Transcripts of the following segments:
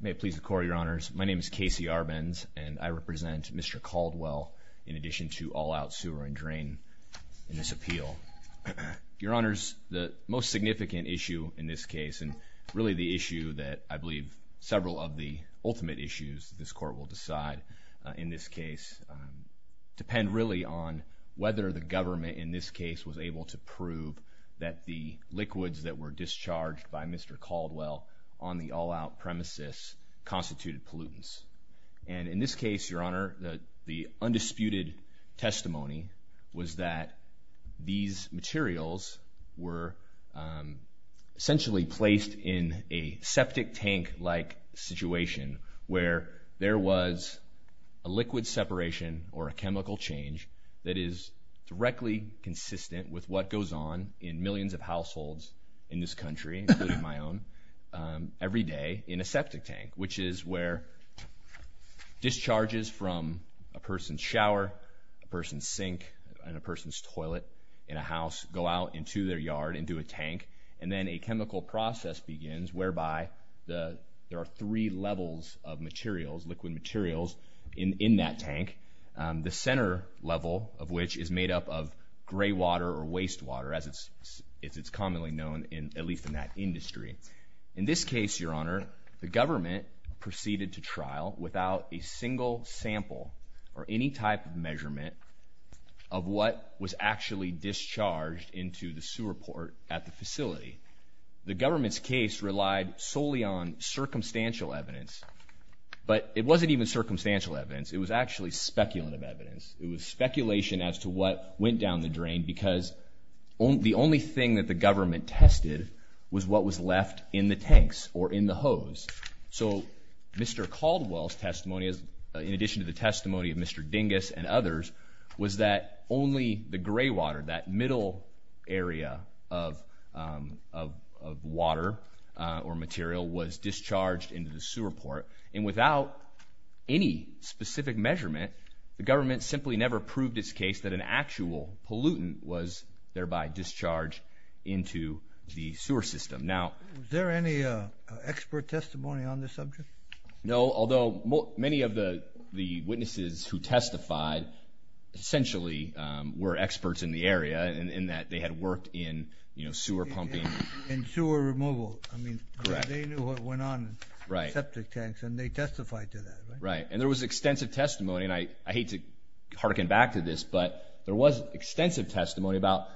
May it please the court, your honors, my name is Casey Arbenz and I represent Mr. Caldwell in addition to all out sewer and drain in this appeal. Your honors, the most significant issue in this case and really the issue that I believe several of the ultimate issues this court will decide in this case depend really on whether the government in this case was able to prove that the liquids that were discharged by Mr. Caldwell on the all out premises constituted pollutants. And in this case, your honor, the undisputed testimony was that these materials were essentially placed in a septic tank like situation where there was a liquid separation or a chemical change that is directly consistent with what goes on in millions of households in this country, including my own, every day in a septic tank, which is where discharges from a person's shower, a person's sink, and a person's toilet in a house go out into their yard into a tank and then a chemical process begins whereby the there are three levels of materials, liquid materials in that tank, the center level of which is made up of gray known in at least in that industry. In this case, your honor, the government proceeded to trial without a single sample or any type of measurement of what was actually discharged into the sewer port at the facility. The government's case relied solely on circumstantial evidence, but it wasn't even circumstantial evidence. It was actually speculative evidence. It was speculation as to what went down the drain because the only thing that the government tested was what was left in the tanks or in the hose. So Mr. Caldwell's testimony, in addition to the testimony of Mr. Dingus and others, was that only the gray water, that middle area of water or material was discharged into the sewer port. And without any specific measurement, the government simply never proved its case that an actual pollutant was thereby discharged into the sewer system. Now is there any expert testimony on this subject? No, although many of the witnesses who testified essentially were experts in the area in that they had worked in, you know, sewer pumping and sewer removal. I mean, they knew what went on in septic tanks and they testified to that. Right. And there was extensive testimony, and I hate to harken back to this, but there was extensive testimony about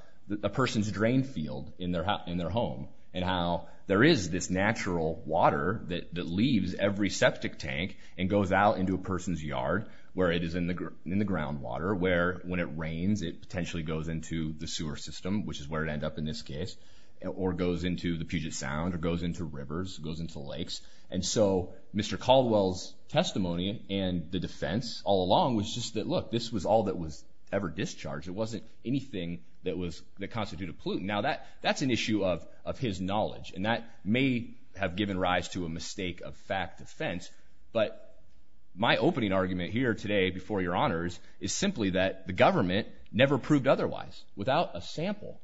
a person's drain field in their home and how there is this natural water that leaves every septic tank and goes out into a person's yard where it is in the groundwater, where when it rains, it potentially goes into the sewer system, which is where it ended up in this case, or goes into the Puget Sound or goes into rivers, goes into lakes. And so, Mr. Caldwell's testimony and the defense all along was just that, look, this was all that was ever discharged. It wasn't anything that constituted pollutant. Now that's an issue of his knowledge, and that may have given rise to a mistake of fact defense. But my opening argument here today, before your honors, is simply that the government never proved otherwise without a sample.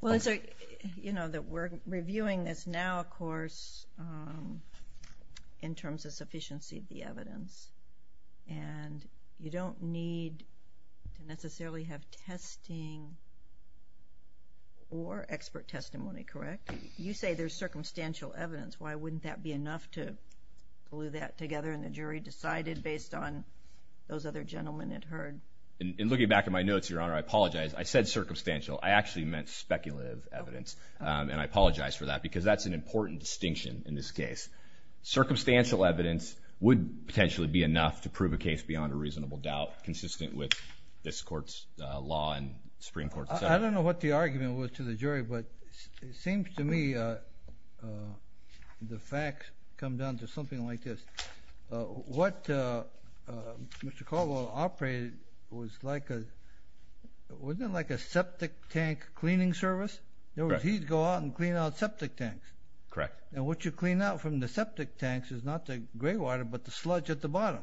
Well, it's like, you know, that we're reviewing this now, of course, in terms of sufficiency of the evidence, and you don't need to necessarily have testing or expert testimony, correct? You say there's circumstantial evidence. Why wouldn't that be enough to glue that together and the jury decided based on those other gentlemen it heard? In looking back at my notes, your honor, I apologize. I said circumstantial. I actually meant speculative evidence, and I apologize for that because that's an important distinction in this case. Circumstantial evidence would potentially be enough to prove a case beyond a reasonable doubt consistent with this court's law and Supreme Court. I don't know what the argument was to the jury, but it seems to me the facts come down to something like this. What Mr. Caldwell operated was like a, wasn't it like a septic tank cleaning service? Correct. He'd go out and clean out septic tanks. Correct. And what you clean out from the septic tanks is not the gray water, but the sludge at the bottom.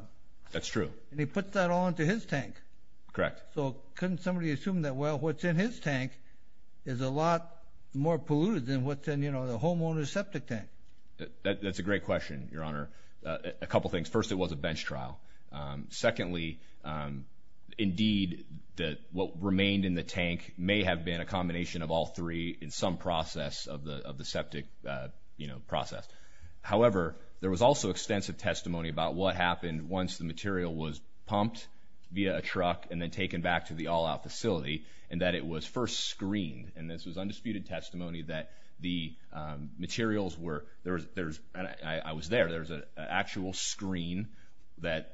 That's true. And he puts that all into his tank. Correct. So couldn't somebody assume that, well, what's in his tank is a lot more polluted than what's in, you know, the homeowner's septic tank? That's a great question, your honor. A couple of things. First, it was a bench trial. Secondly, indeed, what remained in the tank may have been a combination of all three in some process of the septic, you know, process. However, there was also extensive testimony about what happened once the material was pumped via a truck and then taken back to the all-out facility and that it was first screened. And this was undisputed testimony that the materials were, there's, I was there, there's an actual screen that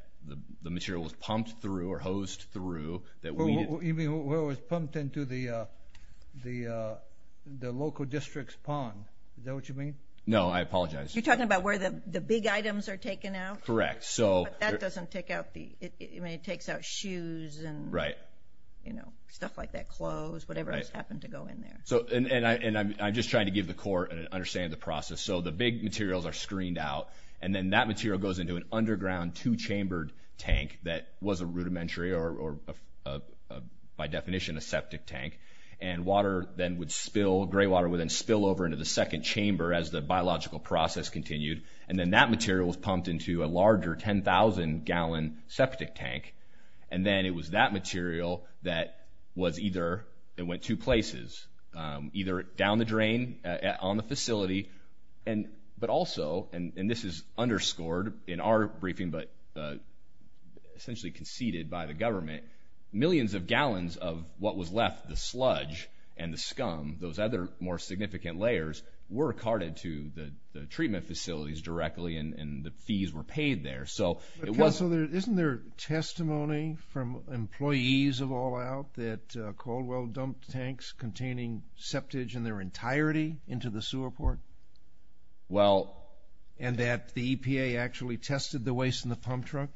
the material was pumped through or hosed through that we didn't... You mean where it was pumped into the local district's pond. Is that what you mean? No, I apologize. You're talking about where the big items are taken out? Correct. So... But that doesn't take out the, I mean, it takes out shoes and... Right. You know, stuff like that, clothes, whatever just happened to go in there. And I'm just trying to give the court an understanding of the process. So the big materials are screened out and then that material goes into an underground two-chambered tank that was a rudimentary or, by definition, a septic tank. And water then would spill, gray water would then spill over into the second chamber as the biological process continued. And then that material was pumped into a larger 10,000 gallon septic tank. And then it was that material that was either, it went two places, either down the drain on the facility, but also, and this is underscored in our briefing, but essentially conceded by the government, millions of gallons of what was left, the sludge and the scum, those other more significant layers, were carted to the treatment facilities directly and the fees were paid there. So it was... But, Kel, so isn't there testimony from employees of All Out that Caldwell dumped tanks containing septage in their entirety into the sewer port? Well... And that the EPA actually tested the waste in the pump truck?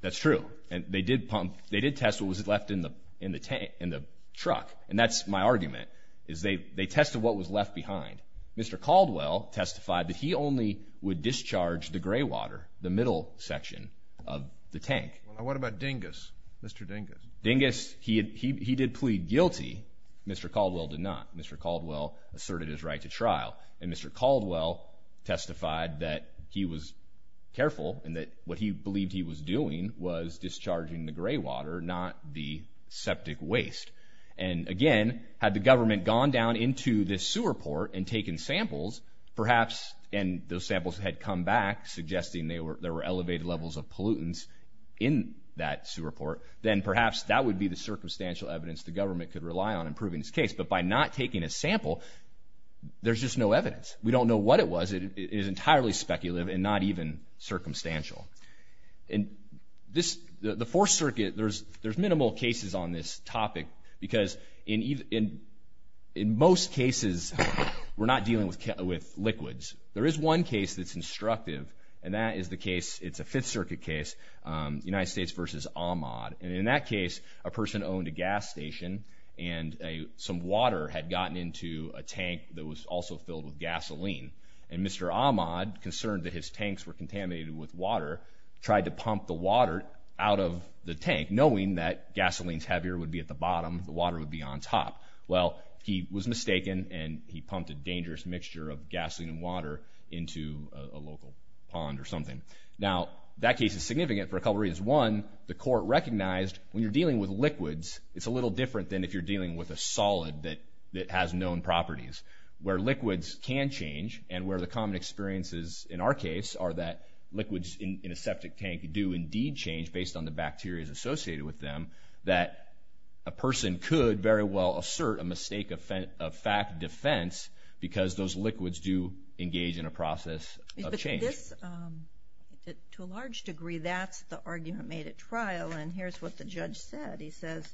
That's true. And they did pump, they did test what was left in the tank, in the truck. And that's my argument, is they tested what was left behind. Mr. Caldwell testified that he only would discharge the gray water, the middle section of the tank. Well, what about Dingus, Mr. Dingus? Dingus, he did plead guilty. Mr. Caldwell did not. Mr. Caldwell asserted his right to trial. And Mr. Caldwell testified that he was careful and that what he believed he was doing was discharging the gray water, not the septic waste. And again, had the government gone down into this sewer port and taken samples, perhaps, and those samples had come back suggesting there were elevated levels of pollutants in that sewer port, then perhaps that would be the circumstantial evidence the government could rely on in proving this case. But by not taking a sample, there's just no evidence. We don't know what it was. It is entirely speculative and not even circumstantial. And this, the Fourth Circuit, there's minimal cases on this topic, because in most cases, we're not dealing with liquids. There is one case that's instructive, and that is the case, it's a Fifth Circuit case, United States v. Ahmaud, and in that case, a person owned a gas station, and some water had gotten into a tank that was also filled with gasoline. And Mr. Ahmaud, concerned that his tanks were contaminated with water, tried to pump the water out of the tank, knowing that gasoline's heavier, would be at the bottom, the water would be on top. Well, he was mistaken, and he pumped a dangerous mixture of gasoline and water into a local pond or something. Now, that case is significant for a couple reasons. One, the court recognized when you're dealing with liquids, it's a little different than if you're dealing with a solid that has known properties. Where liquids can change, and where the common experiences in our case are that liquids in a septic tank do indeed change based on the bacterias associated with them, that a person could very well assert a mistake of fact defense because those liquids do engage in a process of change. So this, to a large degree, that's the argument made at trial, and here's what the judge said. He says,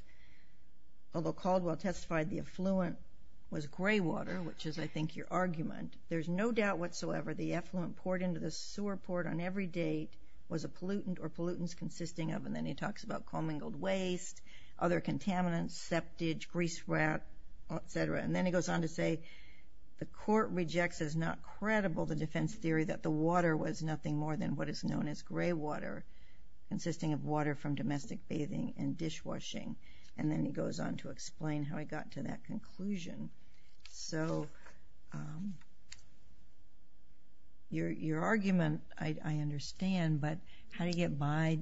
although Caldwell testified the effluent was gray water, which is, I think, your argument, there's no doubt whatsoever the effluent poured into the sewer port on every date was a pollutant or pollutants consisting of, and then he talks about commingled waste, other contaminants, septage, grease rat, et cetera. And then he goes on to say, the court rejects as not credible the defense theory that the water was nothing more than what is known as gray water, consisting of water from domestic bathing and dishwashing. And then he goes on to explain how he got to that conclusion. So your argument, I understand, but how do you get by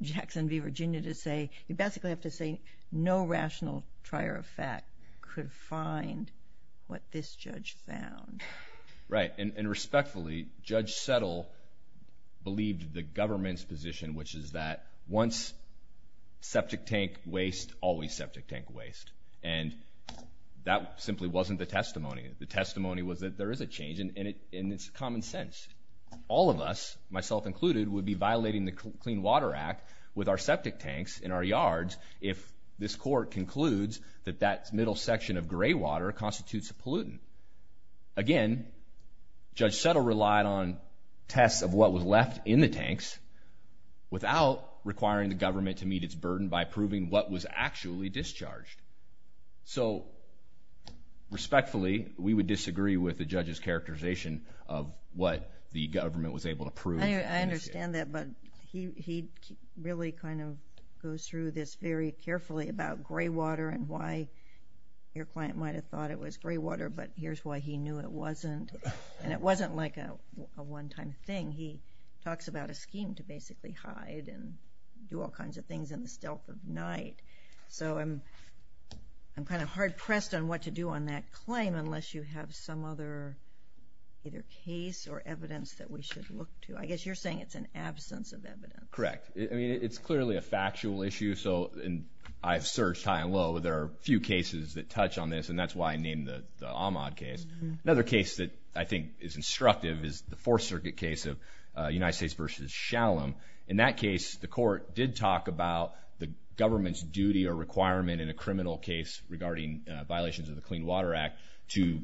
Jackson v. Virginia to say, you basically have to say, no rational trier of fact could find what this judge found. Right, and respectfully, Judge Settle believed the government's position, which is that once septic tank waste, always septic tank waste, and that simply wasn't the testimony. The testimony was that there is a change, and it's common sense. All of us, myself included, would be violating the Clean Water Act with our septic tanks in our yards if this court concludes that that middle section of gray water constitutes a pollutant. Again, Judge Settle relied on tests of what was left in the tanks without requiring the government to meet its burden by proving what was actually discharged. So respectfully, we would disagree with the judge's characterization of what the government was able to prove. I understand that, but he really kind of goes through this very carefully about gray water and why your client might have thought it was gray water, but here's why he knew it wasn't. And it wasn't like a one-time thing. He talks about a scheme to basically hide and do all kinds of things in the stealth of night. So I'm kind of hard-pressed on what to do on that claim unless you have some other either case or evidence that we should look to. I guess you're saying it's an absence of evidence. Correct. I mean, it's clearly a factual issue, so I've searched high and low, but there are a few cases that touch on this, and that's why I named the Ahmaud case. Another case that I think is instructive is the Fourth Circuit case of United States v. Shalem. In that case, the court did talk about the government's duty or requirement in a criminal case regarding violations of the Clean Water Act to,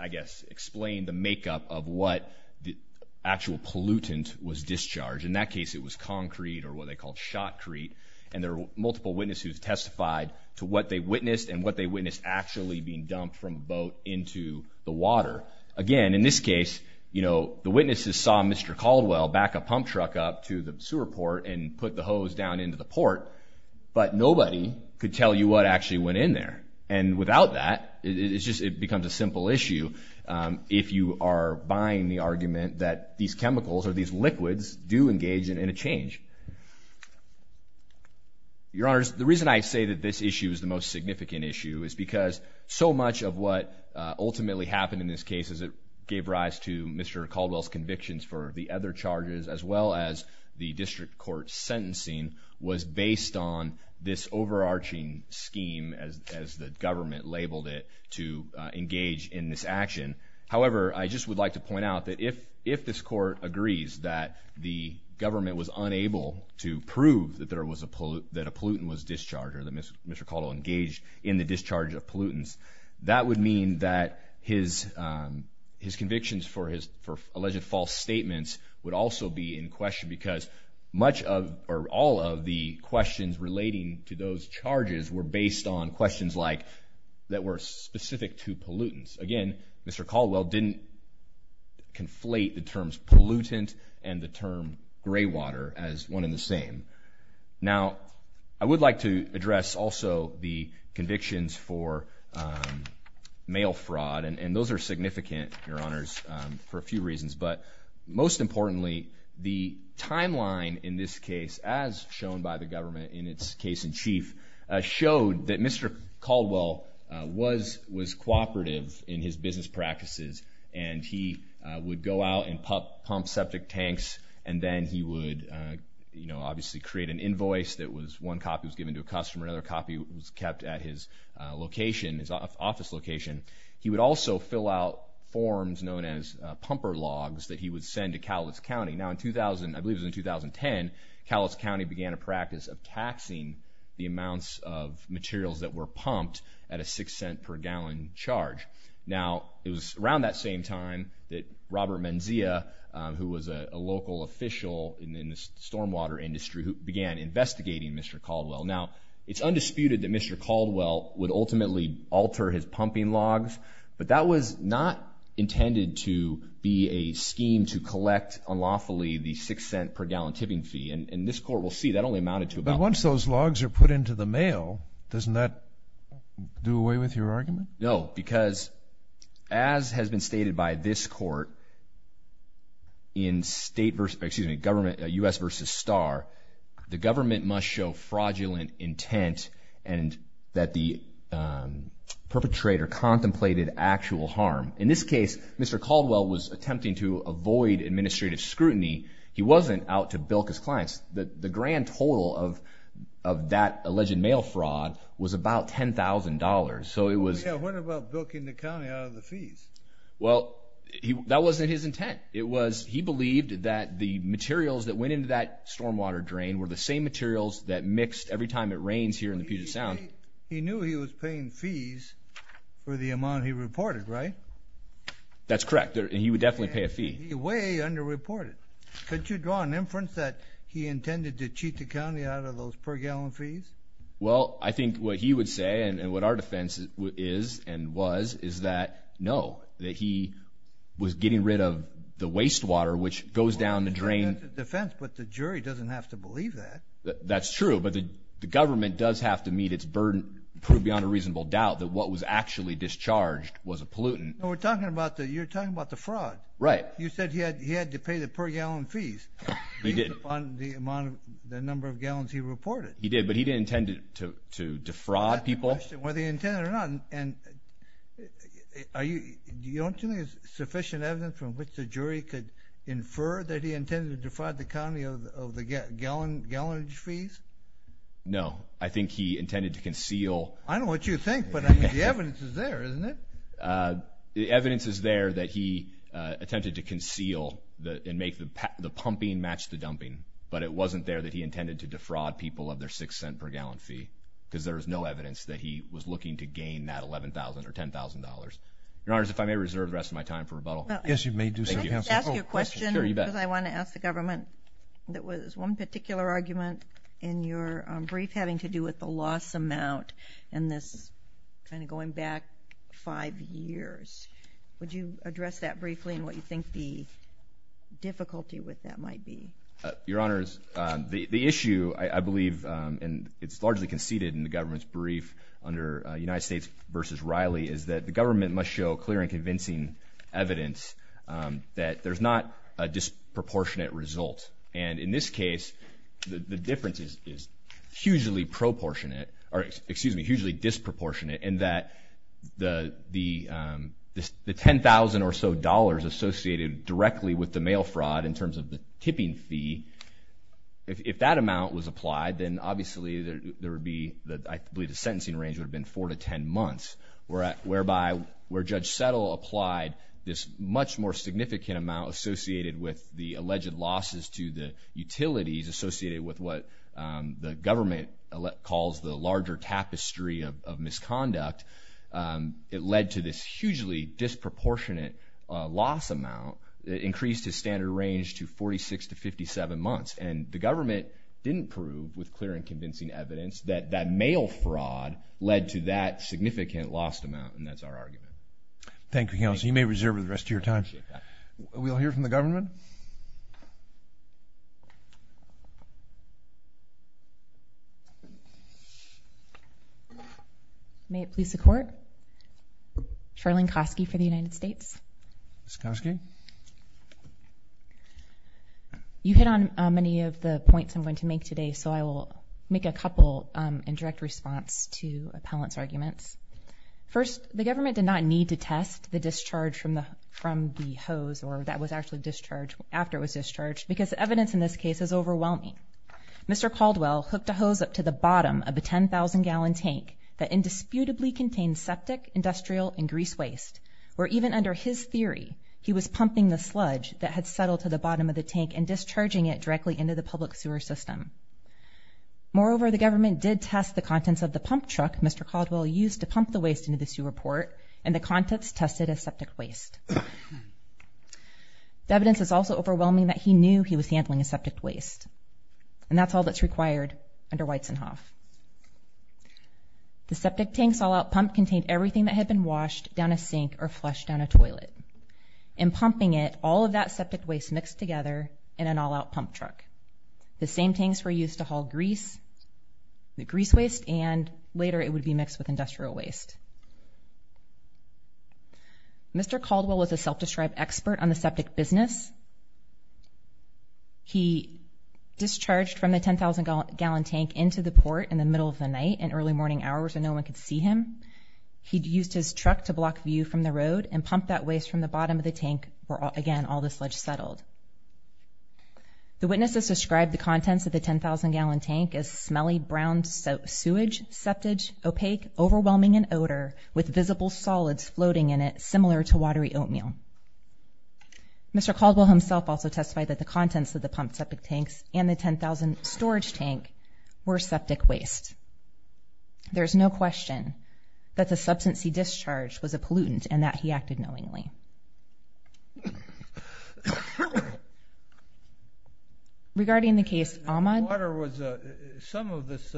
I guess, explain the makeup of what the actual pollutant was discharged. In that case, it was concrete or what they called shotcrete, and there were multiple witnesses who testified to what they witnessed and what they witnessed actually being dumped from a boat into the water. Again, in this case, the witnesses saw Mr. Caldwell back a pump truck up to the sewer port and put the hose down into the port, but nobody could tell you what actually went in there. And without that, it becomes a simple issue if you are buying the argument that these chemicals or these liquids do engage in a change. Your Honors, the reason I say that this issue is the most significant issue is because so much of what ultimately happened in this case as it gave rise to Mr. Caldwell's convictions for the other charges as well as the district court's sentencing was based on this overarching scheme as the government labeled it to engage in this action. However, I just would like to point out that if this court agrees that the government was unable to prove that a pollutant was discharged or that Mr. Caldwell engaged in the discharge of pollutants, that would mean that his convictions for alleged false statements would also be in question because much of or all of the questions relating to those charges were based on questions that were specific to pollutants. Again, Mr. Caldwell didn't conflate the terms pollutant and the term gray water as one and the same. Now, I would like to address also the convictions for mail fraud, and those are significant, Your Honors, for a few reasons. But most importantly, the timeline in this case as shown by the government in its case in chief showed that Mr. Caldwell was cooperative in his business practices, and he would go out and pump septic tanks, and then he would, you know, obviously create an invoice that was one copy was given to a customer, another copy was kept at his location, his office location. He would also fill out forms known as pumper logs that he would send to Callas County. Now, in 2000, I believe it was in 2010, Callas County began a practice of taxing the amounts of materials that were pumped at a six cent per gallon charge. Now, it was around that same time that Robert Menzia, who was a local official in the stormwater industry who began investigating Mr. Caldwell. Now, it's undisputed that Mr. Caldwell would ultimately alter his pumping logs, but that was not intended to be a scheme to collect unlawfully the six cent per gallon tipping fee. And this court will see that only amounted to about... But once those logs are put into the mail, doesn't that do away with your argument? No, because as has been stated by this court, in state versus, excuse me, government, U.S. versus Star, the government must show fraudulent intent and that the perpetrator contemplated actual harm. In this case, Mr. Caldwell was attempting to avoid administrative scrutiny. He wasn't out to bilk his clients. The grand total of that alleged mail fraud was about $10,000. So it was... Yeah, what about bilking the county out of the fees? Well, that wasn't his intent. It was... He believed that the materials that went into that stormwater drain were the same materials that mixed every time it rains here in the Puget Sound. So he knew he was paying fees for the amount he reported, right? That's correct. And he would definitely pay a fee. And he way underreported. Could you draw an inference that he intended to cheat the county out of those per gallon fees? Well, I think what he would say and what our defense is and was is that, no, that he was getting rid of the wastewater which goes down the drain. Well, that's a defense, but the jury doesn't have to believe that. That's true. But the government does have to meet its burden, prove beyond a reasonable doubt that what was actually discharged was a pollutant. We're talking about the... You're talking about the fraud. Right. You said he had to pay the per gallon fees on the number of gallons he reported. He did, but he didn't intend to defraud people. That's the question. Whether he intended it or not. And do you think there's sufficient evidence from which the jury could infer that he intended to defraud the county of the gallonage fees? No. I think he intended to conceal... I don't know what you think, but the evidence is there, isn't it? The evidence is there that he attempted to conceal and make the pumping match the dumping, but it wasn't there that he intended to defraud people of their six cent per gallon fee, because there was no evidence that he was looking to gain that $11,000 or $10,000. Your Honor, if I may reserve the rest of my time for rebuttal. Yes, you may do so, Counsel. Thank you. I have a question. Sure, you bet. Because I want to ask the government. There was one particular argument in your brief having to do with the loss amount and this kind of going back five years. Would you address that briefly and what you think the difficulty with that might be? Your Honor, the issue, I believe, and it's largely conceded in the government's brief under United States v. Riley, is that the government must show clear and convincing evidence that there's not a disproportionate result. And in this case, the difference is hugely disproportionate in that the $10,000 or so dollars associated directly with the mail fraud in terms of the tipping fee, if that amount was applied, then obviously there would be, I believe the sentencing range would have been four to ten months, whereby where Judge Settle applied this much more significant amount associated with the alleged losses to the utilities associated with what the government calls the larger tapestry of misconduct, it led to this hugely disproportionate loss amount that increased his standard range to 46 to 57 months. And the government didn't prove with clear and convincing evidence that that mail fraud led to that significant lost amount, and that's our argument. Thank you, Counselor. You may reserve the rest of your time. We'll hear from the government. May it please the Court, Charlene Kosky for the United States. Ms. Kosky? You hit on many of the points I'm going to make today, so I will make a couple in direct response to appellant's arguments. First, the government did not need to test the discharge from the hose, or that was actually discharged after it was discharged, because the evidence in this case is overwhelming. Mr. Caldwell hooked a hose up to the bottom of a 10,000-gallon tank that indisputably contained septic, industrial, and grease waste, where even under his theory, he was pumping the sludge that had settled to the bottom of the tank and discharging it directly into the public sewer system. Moreover, the government did test the contents of the pump truck Mr. Caldwell used to pump the waste into the sewer port, and the contents tested as septic waste. The evidence is also overwhelming that he knew he was handling a septic waste, and that's all that's required under Weitzenhoff. The septic tank's all-out pump contained everything that had been washed down a sink or flushed down a toilet. In pumping it, all of that septic waste mixed together in an all-out pump truck. The same tanks were used to haul grease, the grease waste, and later it would be mixed with industrial waste. Mr. Caldwell was a self-described expert on the septic business. He discharged from the 10,000-gallon tank into the port in the middle of the night in early morning hours so no one could see him. He'd used his truck to block view from the road and pump that waste from the bottom of the tank where, again, all the sludge settled. The witnesses described the contents of the 10,000-gallon tank as smelly brown sewage, septage, opaque, overwhelming in odor, with visible solids floating in it similar to watery oatmeal. Mr. Caldwell himself also testified that the contents of the pumped septic tanks and the 10,000-storage tank were septic waste. There's no question that the substance he discharged was a pollutant and that he acted knowingly. Regarding the case, Ahmad? Some of this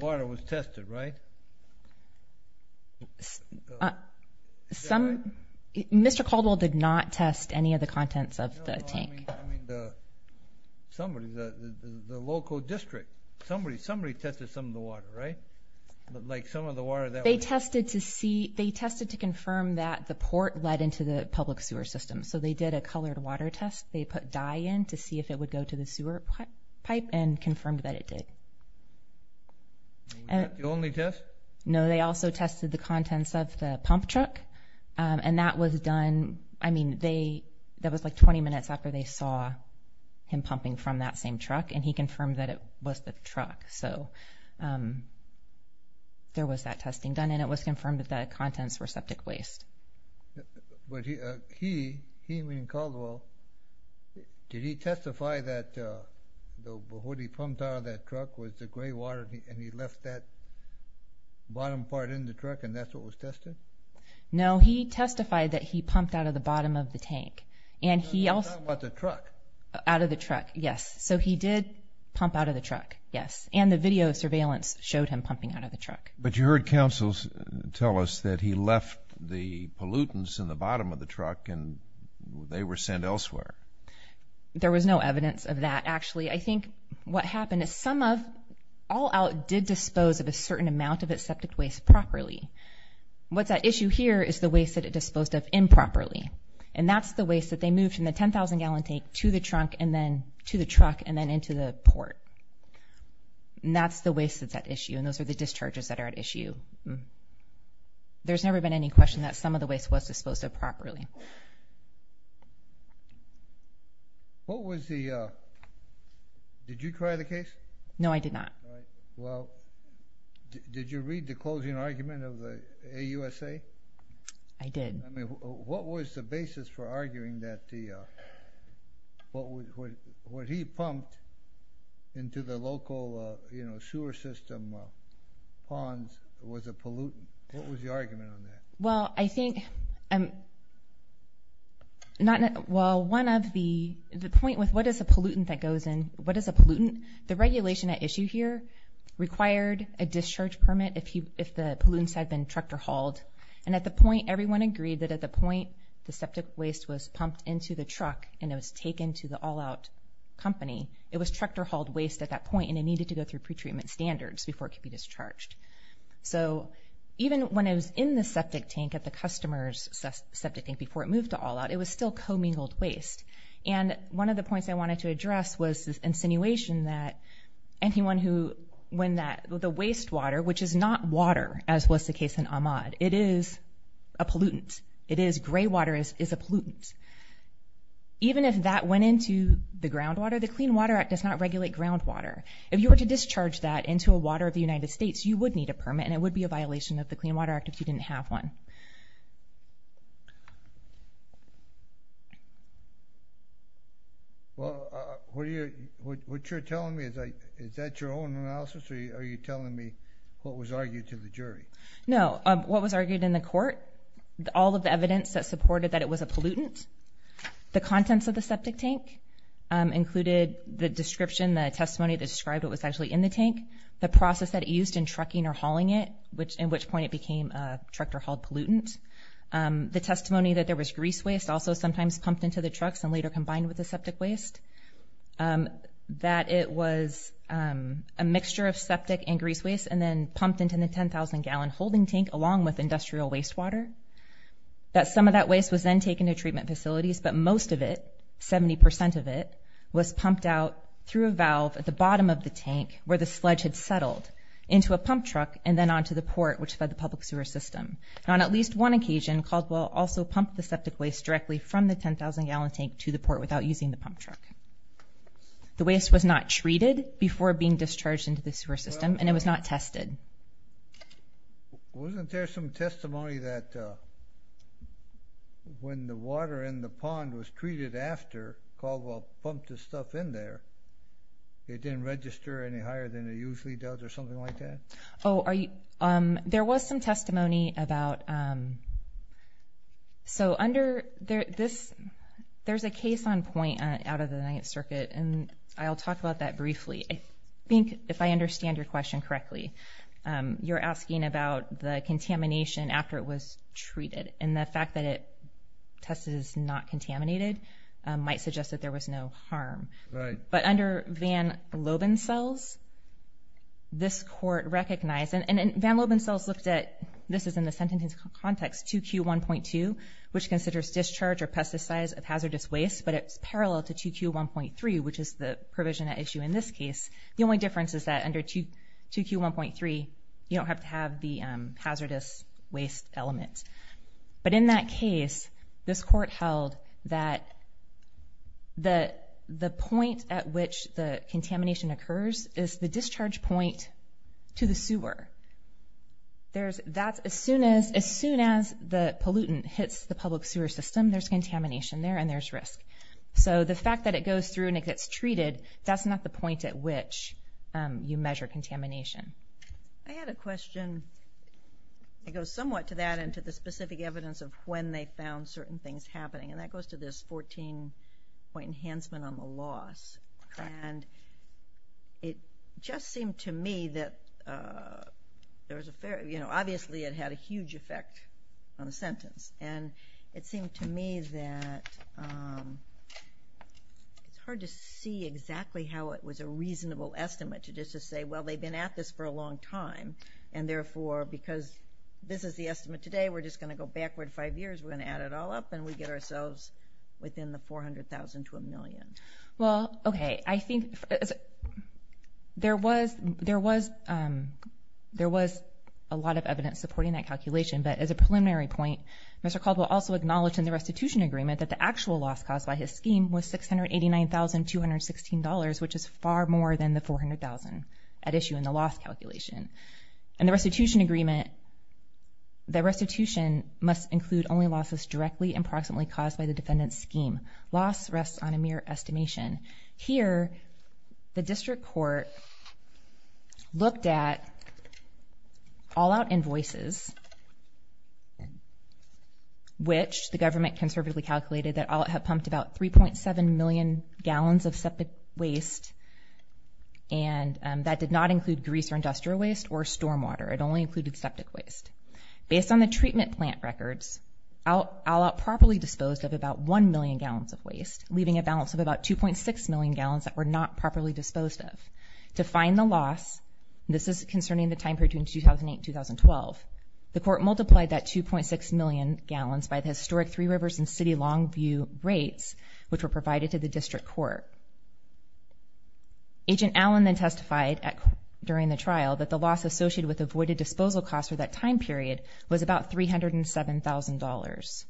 water was tested, right? Mr. Caldwell did not test any of the contents of the tank. No, I mean somebody, the local district. Somebody tested some of the water, right? Like some of the water that was- They tested to see, they tested to confirm that the port led into the public sewer system. So they did a colored water test. They put dye in to see if it would go to the sewer pipe and confirmed that it did. And- The only test? No, they also tested the contents of the pump truck and that was done, I mean, they, that was like 20 minutes after they saw him pumping from that same truck and he confirmed that it was the truck. So there was that testing done and it was confirmed that the contents were septic waste. But he, he, I mean Caldwell, did he testify that what he pumped out of that truck was the gray water and he left that bottom part in the truck and that's what was tested? No, he testified that he pumped out of the bottom of the tank. And he also- I'm talking about the truck. Out of the truck, yes. So he did pump out of the truck, yes. And the video surveillance showed him pumping out of the truck. But you heard counsels tell us that he left the pollutants in the bottom of the truck and they were sent elsewhere. There was no evidence of that, actually. I think what happened is some of, all out did dispose of a certain amount of its septic waste properly. What's at issue here is the waste that it disposed of improperly. And that's the waste that they moved from the 10,000 gallon tank to the trunk and then into the port. And that's the waste that's at issue and those are the discharges that are at issue. There's never been any question that some of the waste was disposed of properly. What was the, did you try the case? No I did not. Right. Well, did you read the closing argument of the AUSA? I did. What was the basis for arguing that the, what he pumped into the local sewer system ponds was a pollutant? What was the argument on that? Well I think, well one of the, the point with what is a pollutant that goes in, what is a pollutant? The regulation at issue here required a discharge permit if the pollutants had been trucked or hauled. And at the point, everyone agreed that at the point the septic waste was pumped into the truck and it was taken to the all out company, it was trucked or hauled waste at that point and it needed to go through pretreatment standards before it could be discharged. So even when it was in the septic tank at the customer's septic tank before it moved to all out, it was still commingled waste. And one of the points I wanted to address was this insinuation that anyone who, when that, the waste water, which is not water as was the case in Ahmaud, it is a pollutant. It is, gray water is a pollutant. Even if that went into the groundwater, the Clean Water Act does not regulate groundwater. If you were to discharge that into a water of the United States, you would need a permit and it would be a violation of the Clean Water Act if you didn't have one. Well, what are you, what you're telling me, is that your own analysis or are you telling me what was argued to the jury? No, what was argued in the court, all of the evidence that supported that it was a pollutant, the contents of the septic tank included the description, the testimony that described it was actually in the tank, the process that it used in trucking or hauling it, which in which point it became a trucked or hauled pollutant, the testimony that there was grease waste also sometimes pumped into the trucks and later combined with the septic waste, that it was a mixture of septic and grease waste and then pumped into the 10,000 gallon holding tank along with industrial waste water, that some of that waste was then taken to treatment facilities, but most of it, 70% of it, was pumped out through a valve at the bottom of the tank where the sludge had settled into a pump truck and then onto the port, which fed the public sewer system, and on at least one occasion, Caldwell also pumped the septic waste directly from the 10,000 gallon tank to the port without using the pump truck. The waste was not treated before being discharged into the sewer system and it was not tested. Wasn't there some testimony that when the water in the pond was treated after Caldwell pumped the stuff in there, it didn't register any higher than it usually does or something like that? Oh, there was some testimony about, so under this, there's a case on point out of the Ninth Circuit and I'll talk about that briefly. I think if I understand your question correctly, you're asking about the contamination after it was treated and the fact that it tested as not contaminated might suggest that there was no harm. Right. But under Van Loban cells, this court recognized, and Van Loban cells looked at, this is in the sentencing context, 2Q1.2, which considers discharge or pesticides of hazardous waste, but it's parallel to 2Q1.3, which is the provision at issue in this case. The only difference is that under 2Q1.3, you don't have to have the hazardous waste element. But in that case, this court held that the point at which the contamination occurs is the discharge point to the sewer. That's as soon as the pollutant hits the public sewer system, there's contamination there and there's risk. So the fact that it goes through and it gets treated, that's not the point at which you measure contamination. I had a question that goes somewhat to that and to the specific evidence of when they found certain things happening, and that goes to this 14-point enhancement on the loss. It just seemed to me that, obviously, it had a huge effect on the sentence. It seemed to me that it's hard to see exactly how it was a reasonable estimate to just say, well, they've been at this for a long time, and therefore, because this is the estimate today, we're just going to go backward five years, we're going to add it all up, and we get ourselves within the $400,000 to a million. Well, okay. I think there was a lot of evidence supporting that calculation, but as a preliminary point, Mr. Caldwell also acknowledged in the restitution agreement that the actual loss caused by his at issue in the loss calculation. And the restitution agreement, the restitution must include only losses directly and proximately caused by the defendant's scheme. Loss rests on a mere estimation. Here, the district court looked at all-out invoices, which the government conservatively And that did not include grease or industrial waste or stormwater. It only included septic waste. Based on the treatment plant records, all-out properly disposed of about 1 million gallons of waste, leaving a balance of about 2.6 million gallons that were not properly disposed of. To find the loss, this is concerning the time period between 2008 and 2012, the court multiplied that 2.6 million gallons by the historic Three Rivers and City Longview rates, which were Agent Allen then testified during the trial that the loss associated with avoided disposal costs for that time period was about $307,000.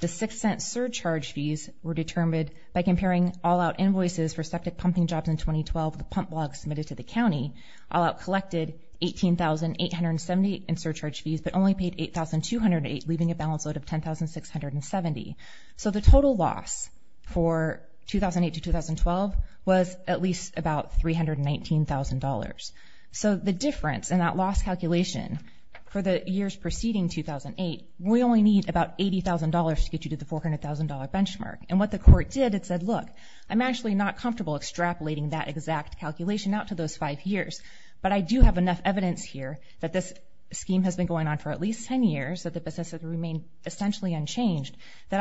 The six cent surcharge fees were determined by comparing all-out invoices for septic pumping jobs in 2012, the pump blog submitted to the county, all-out collected $18,870 in surcharge fees, but only paid $8,208, leaving a balance out of $10,670. So the total loss for 2008 to 2012 was at least about $319,000. So the difference in that loss calculation for the years preceding 2008, we only need about $80,000 to get you to the $400,000 benchmark. And what the court did, it said, look, I'm actually not comfortable extrapolating that exact calculation out to those five years. But I do have enough evidence here that this scheme has been going on for at least 10 years that the business has remained essentially unchanged. He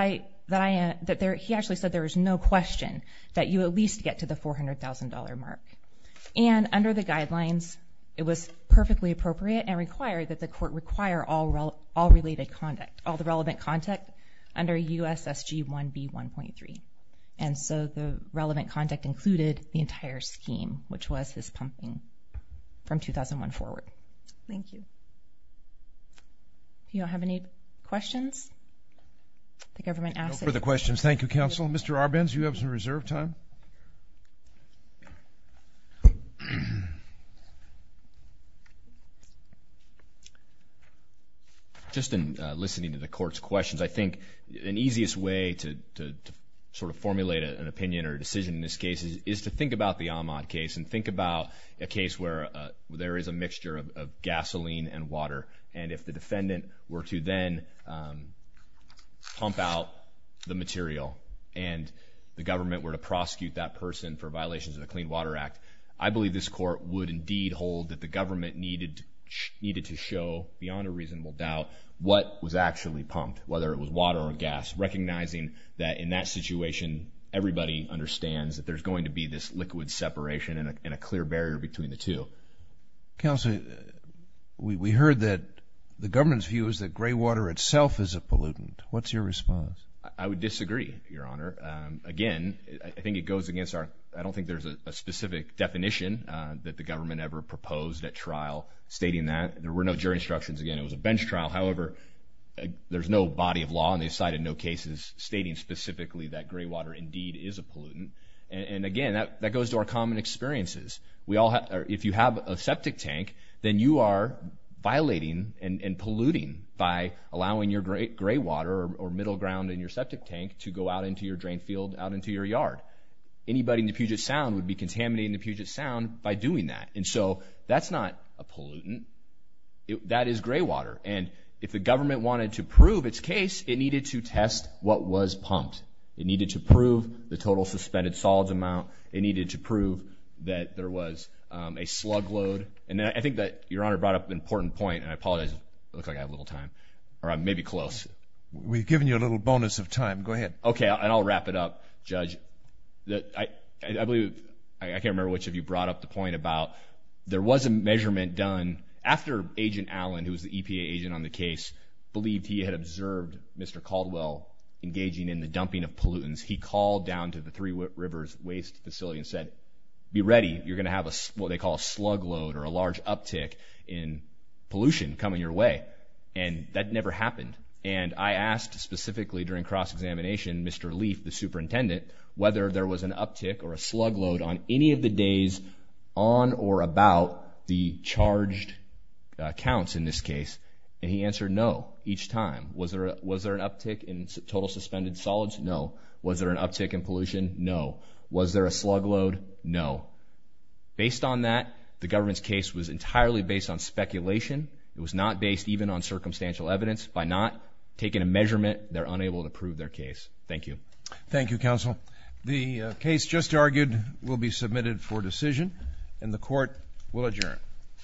actually said there is no question that you at least get to the $400,000 mark. And under the guidelines, it was perfectly appropriate and required that the court require all related contact, all the relevant contact under USSG 1B 1.3. And so the relevant contact included the entire scheme, which was his pumping from 2001 forward. Thank you. If you don't have any questions, the government asks that you... No further questions. Thank you, counsel. Mr. Arbenz, you have some reserve time. Just in listening to the court's questions, I think an easiest way to sort of formulate an opinion or decision in this case is to think about the Ahmaud case and think about a case where there is a mixture of gasoline and water. And if the defendant were to then pump out the material and the government were to prosecute that person for violations of the Clean Water Act, I believe this court would indeed hold that the government needed to show beyond a reasonable doubt what was actually pumped, whether it was water or gas, recognizing that in that situation, everybody understands that there's going to be this liquid separation and a clear barrier between the two. Counsel, we heard that the government's view is that gray water itself is a pollutant. What's your response? I would disagree, Your Honor. Again, I think it goes against our... I don't think there's a specific definition that the government ever proposed at trial stating that. There were no jury instructions. Again, it was a bench trial. However, there's no body of law and they cited no cases stating specifically that gray water indeed is a pollutant. And again, that goes to our common experiences. If you have a septic tank, then you are violating and polluting by allowing your gray water or middle ground in your septic tank to go out into your drain field, out into your yard. Anybody in the Puget Sound would be contaminating the Puget Sound by doing that. And so that's not a pollutant. That is gray water. And if the government wanted to prove its case, it needed to test what was pumped. It needed to prove the total suspended solids amount. It needed to prove that there was a slug load. And I think that Your Honor brought up an important point, and I apologize. It looks like I have a little time, or maybe close. We've given you a little bonus of time. Go ahead. Okay. And I'll wrap it up, Judge. I believe... I can't remember which of you brought up the point about there was a measurement done after Agent Allen, who was the EPA agent on the case, believed he had observed Mr. Caldwell engaging in the dumping of pollutants. He called down to the Three Rivers Waste Facility and said, be ready. You're going to have what they call a slug load or a large uptick in pollution coming your way. And that never happened. And I asked specifically during cross-examination, Mr. Leaf, the superintendent, whether there was an uptick or a slug load on any of the days on or about the charged counts in this case. And he answered no each time. Was there an uptick in total suspended solids? No. Was there an uptick in pollution? No. Was there a slug load? No. Based on that, the government's case was entirely based on speculation. It was not based even on circumstantial evidence. By not taking a measurement, they're unable to prove their case. Thank you. Thank you, Counsel. The case just argued will be submitted for decision, and the Court will adjourn.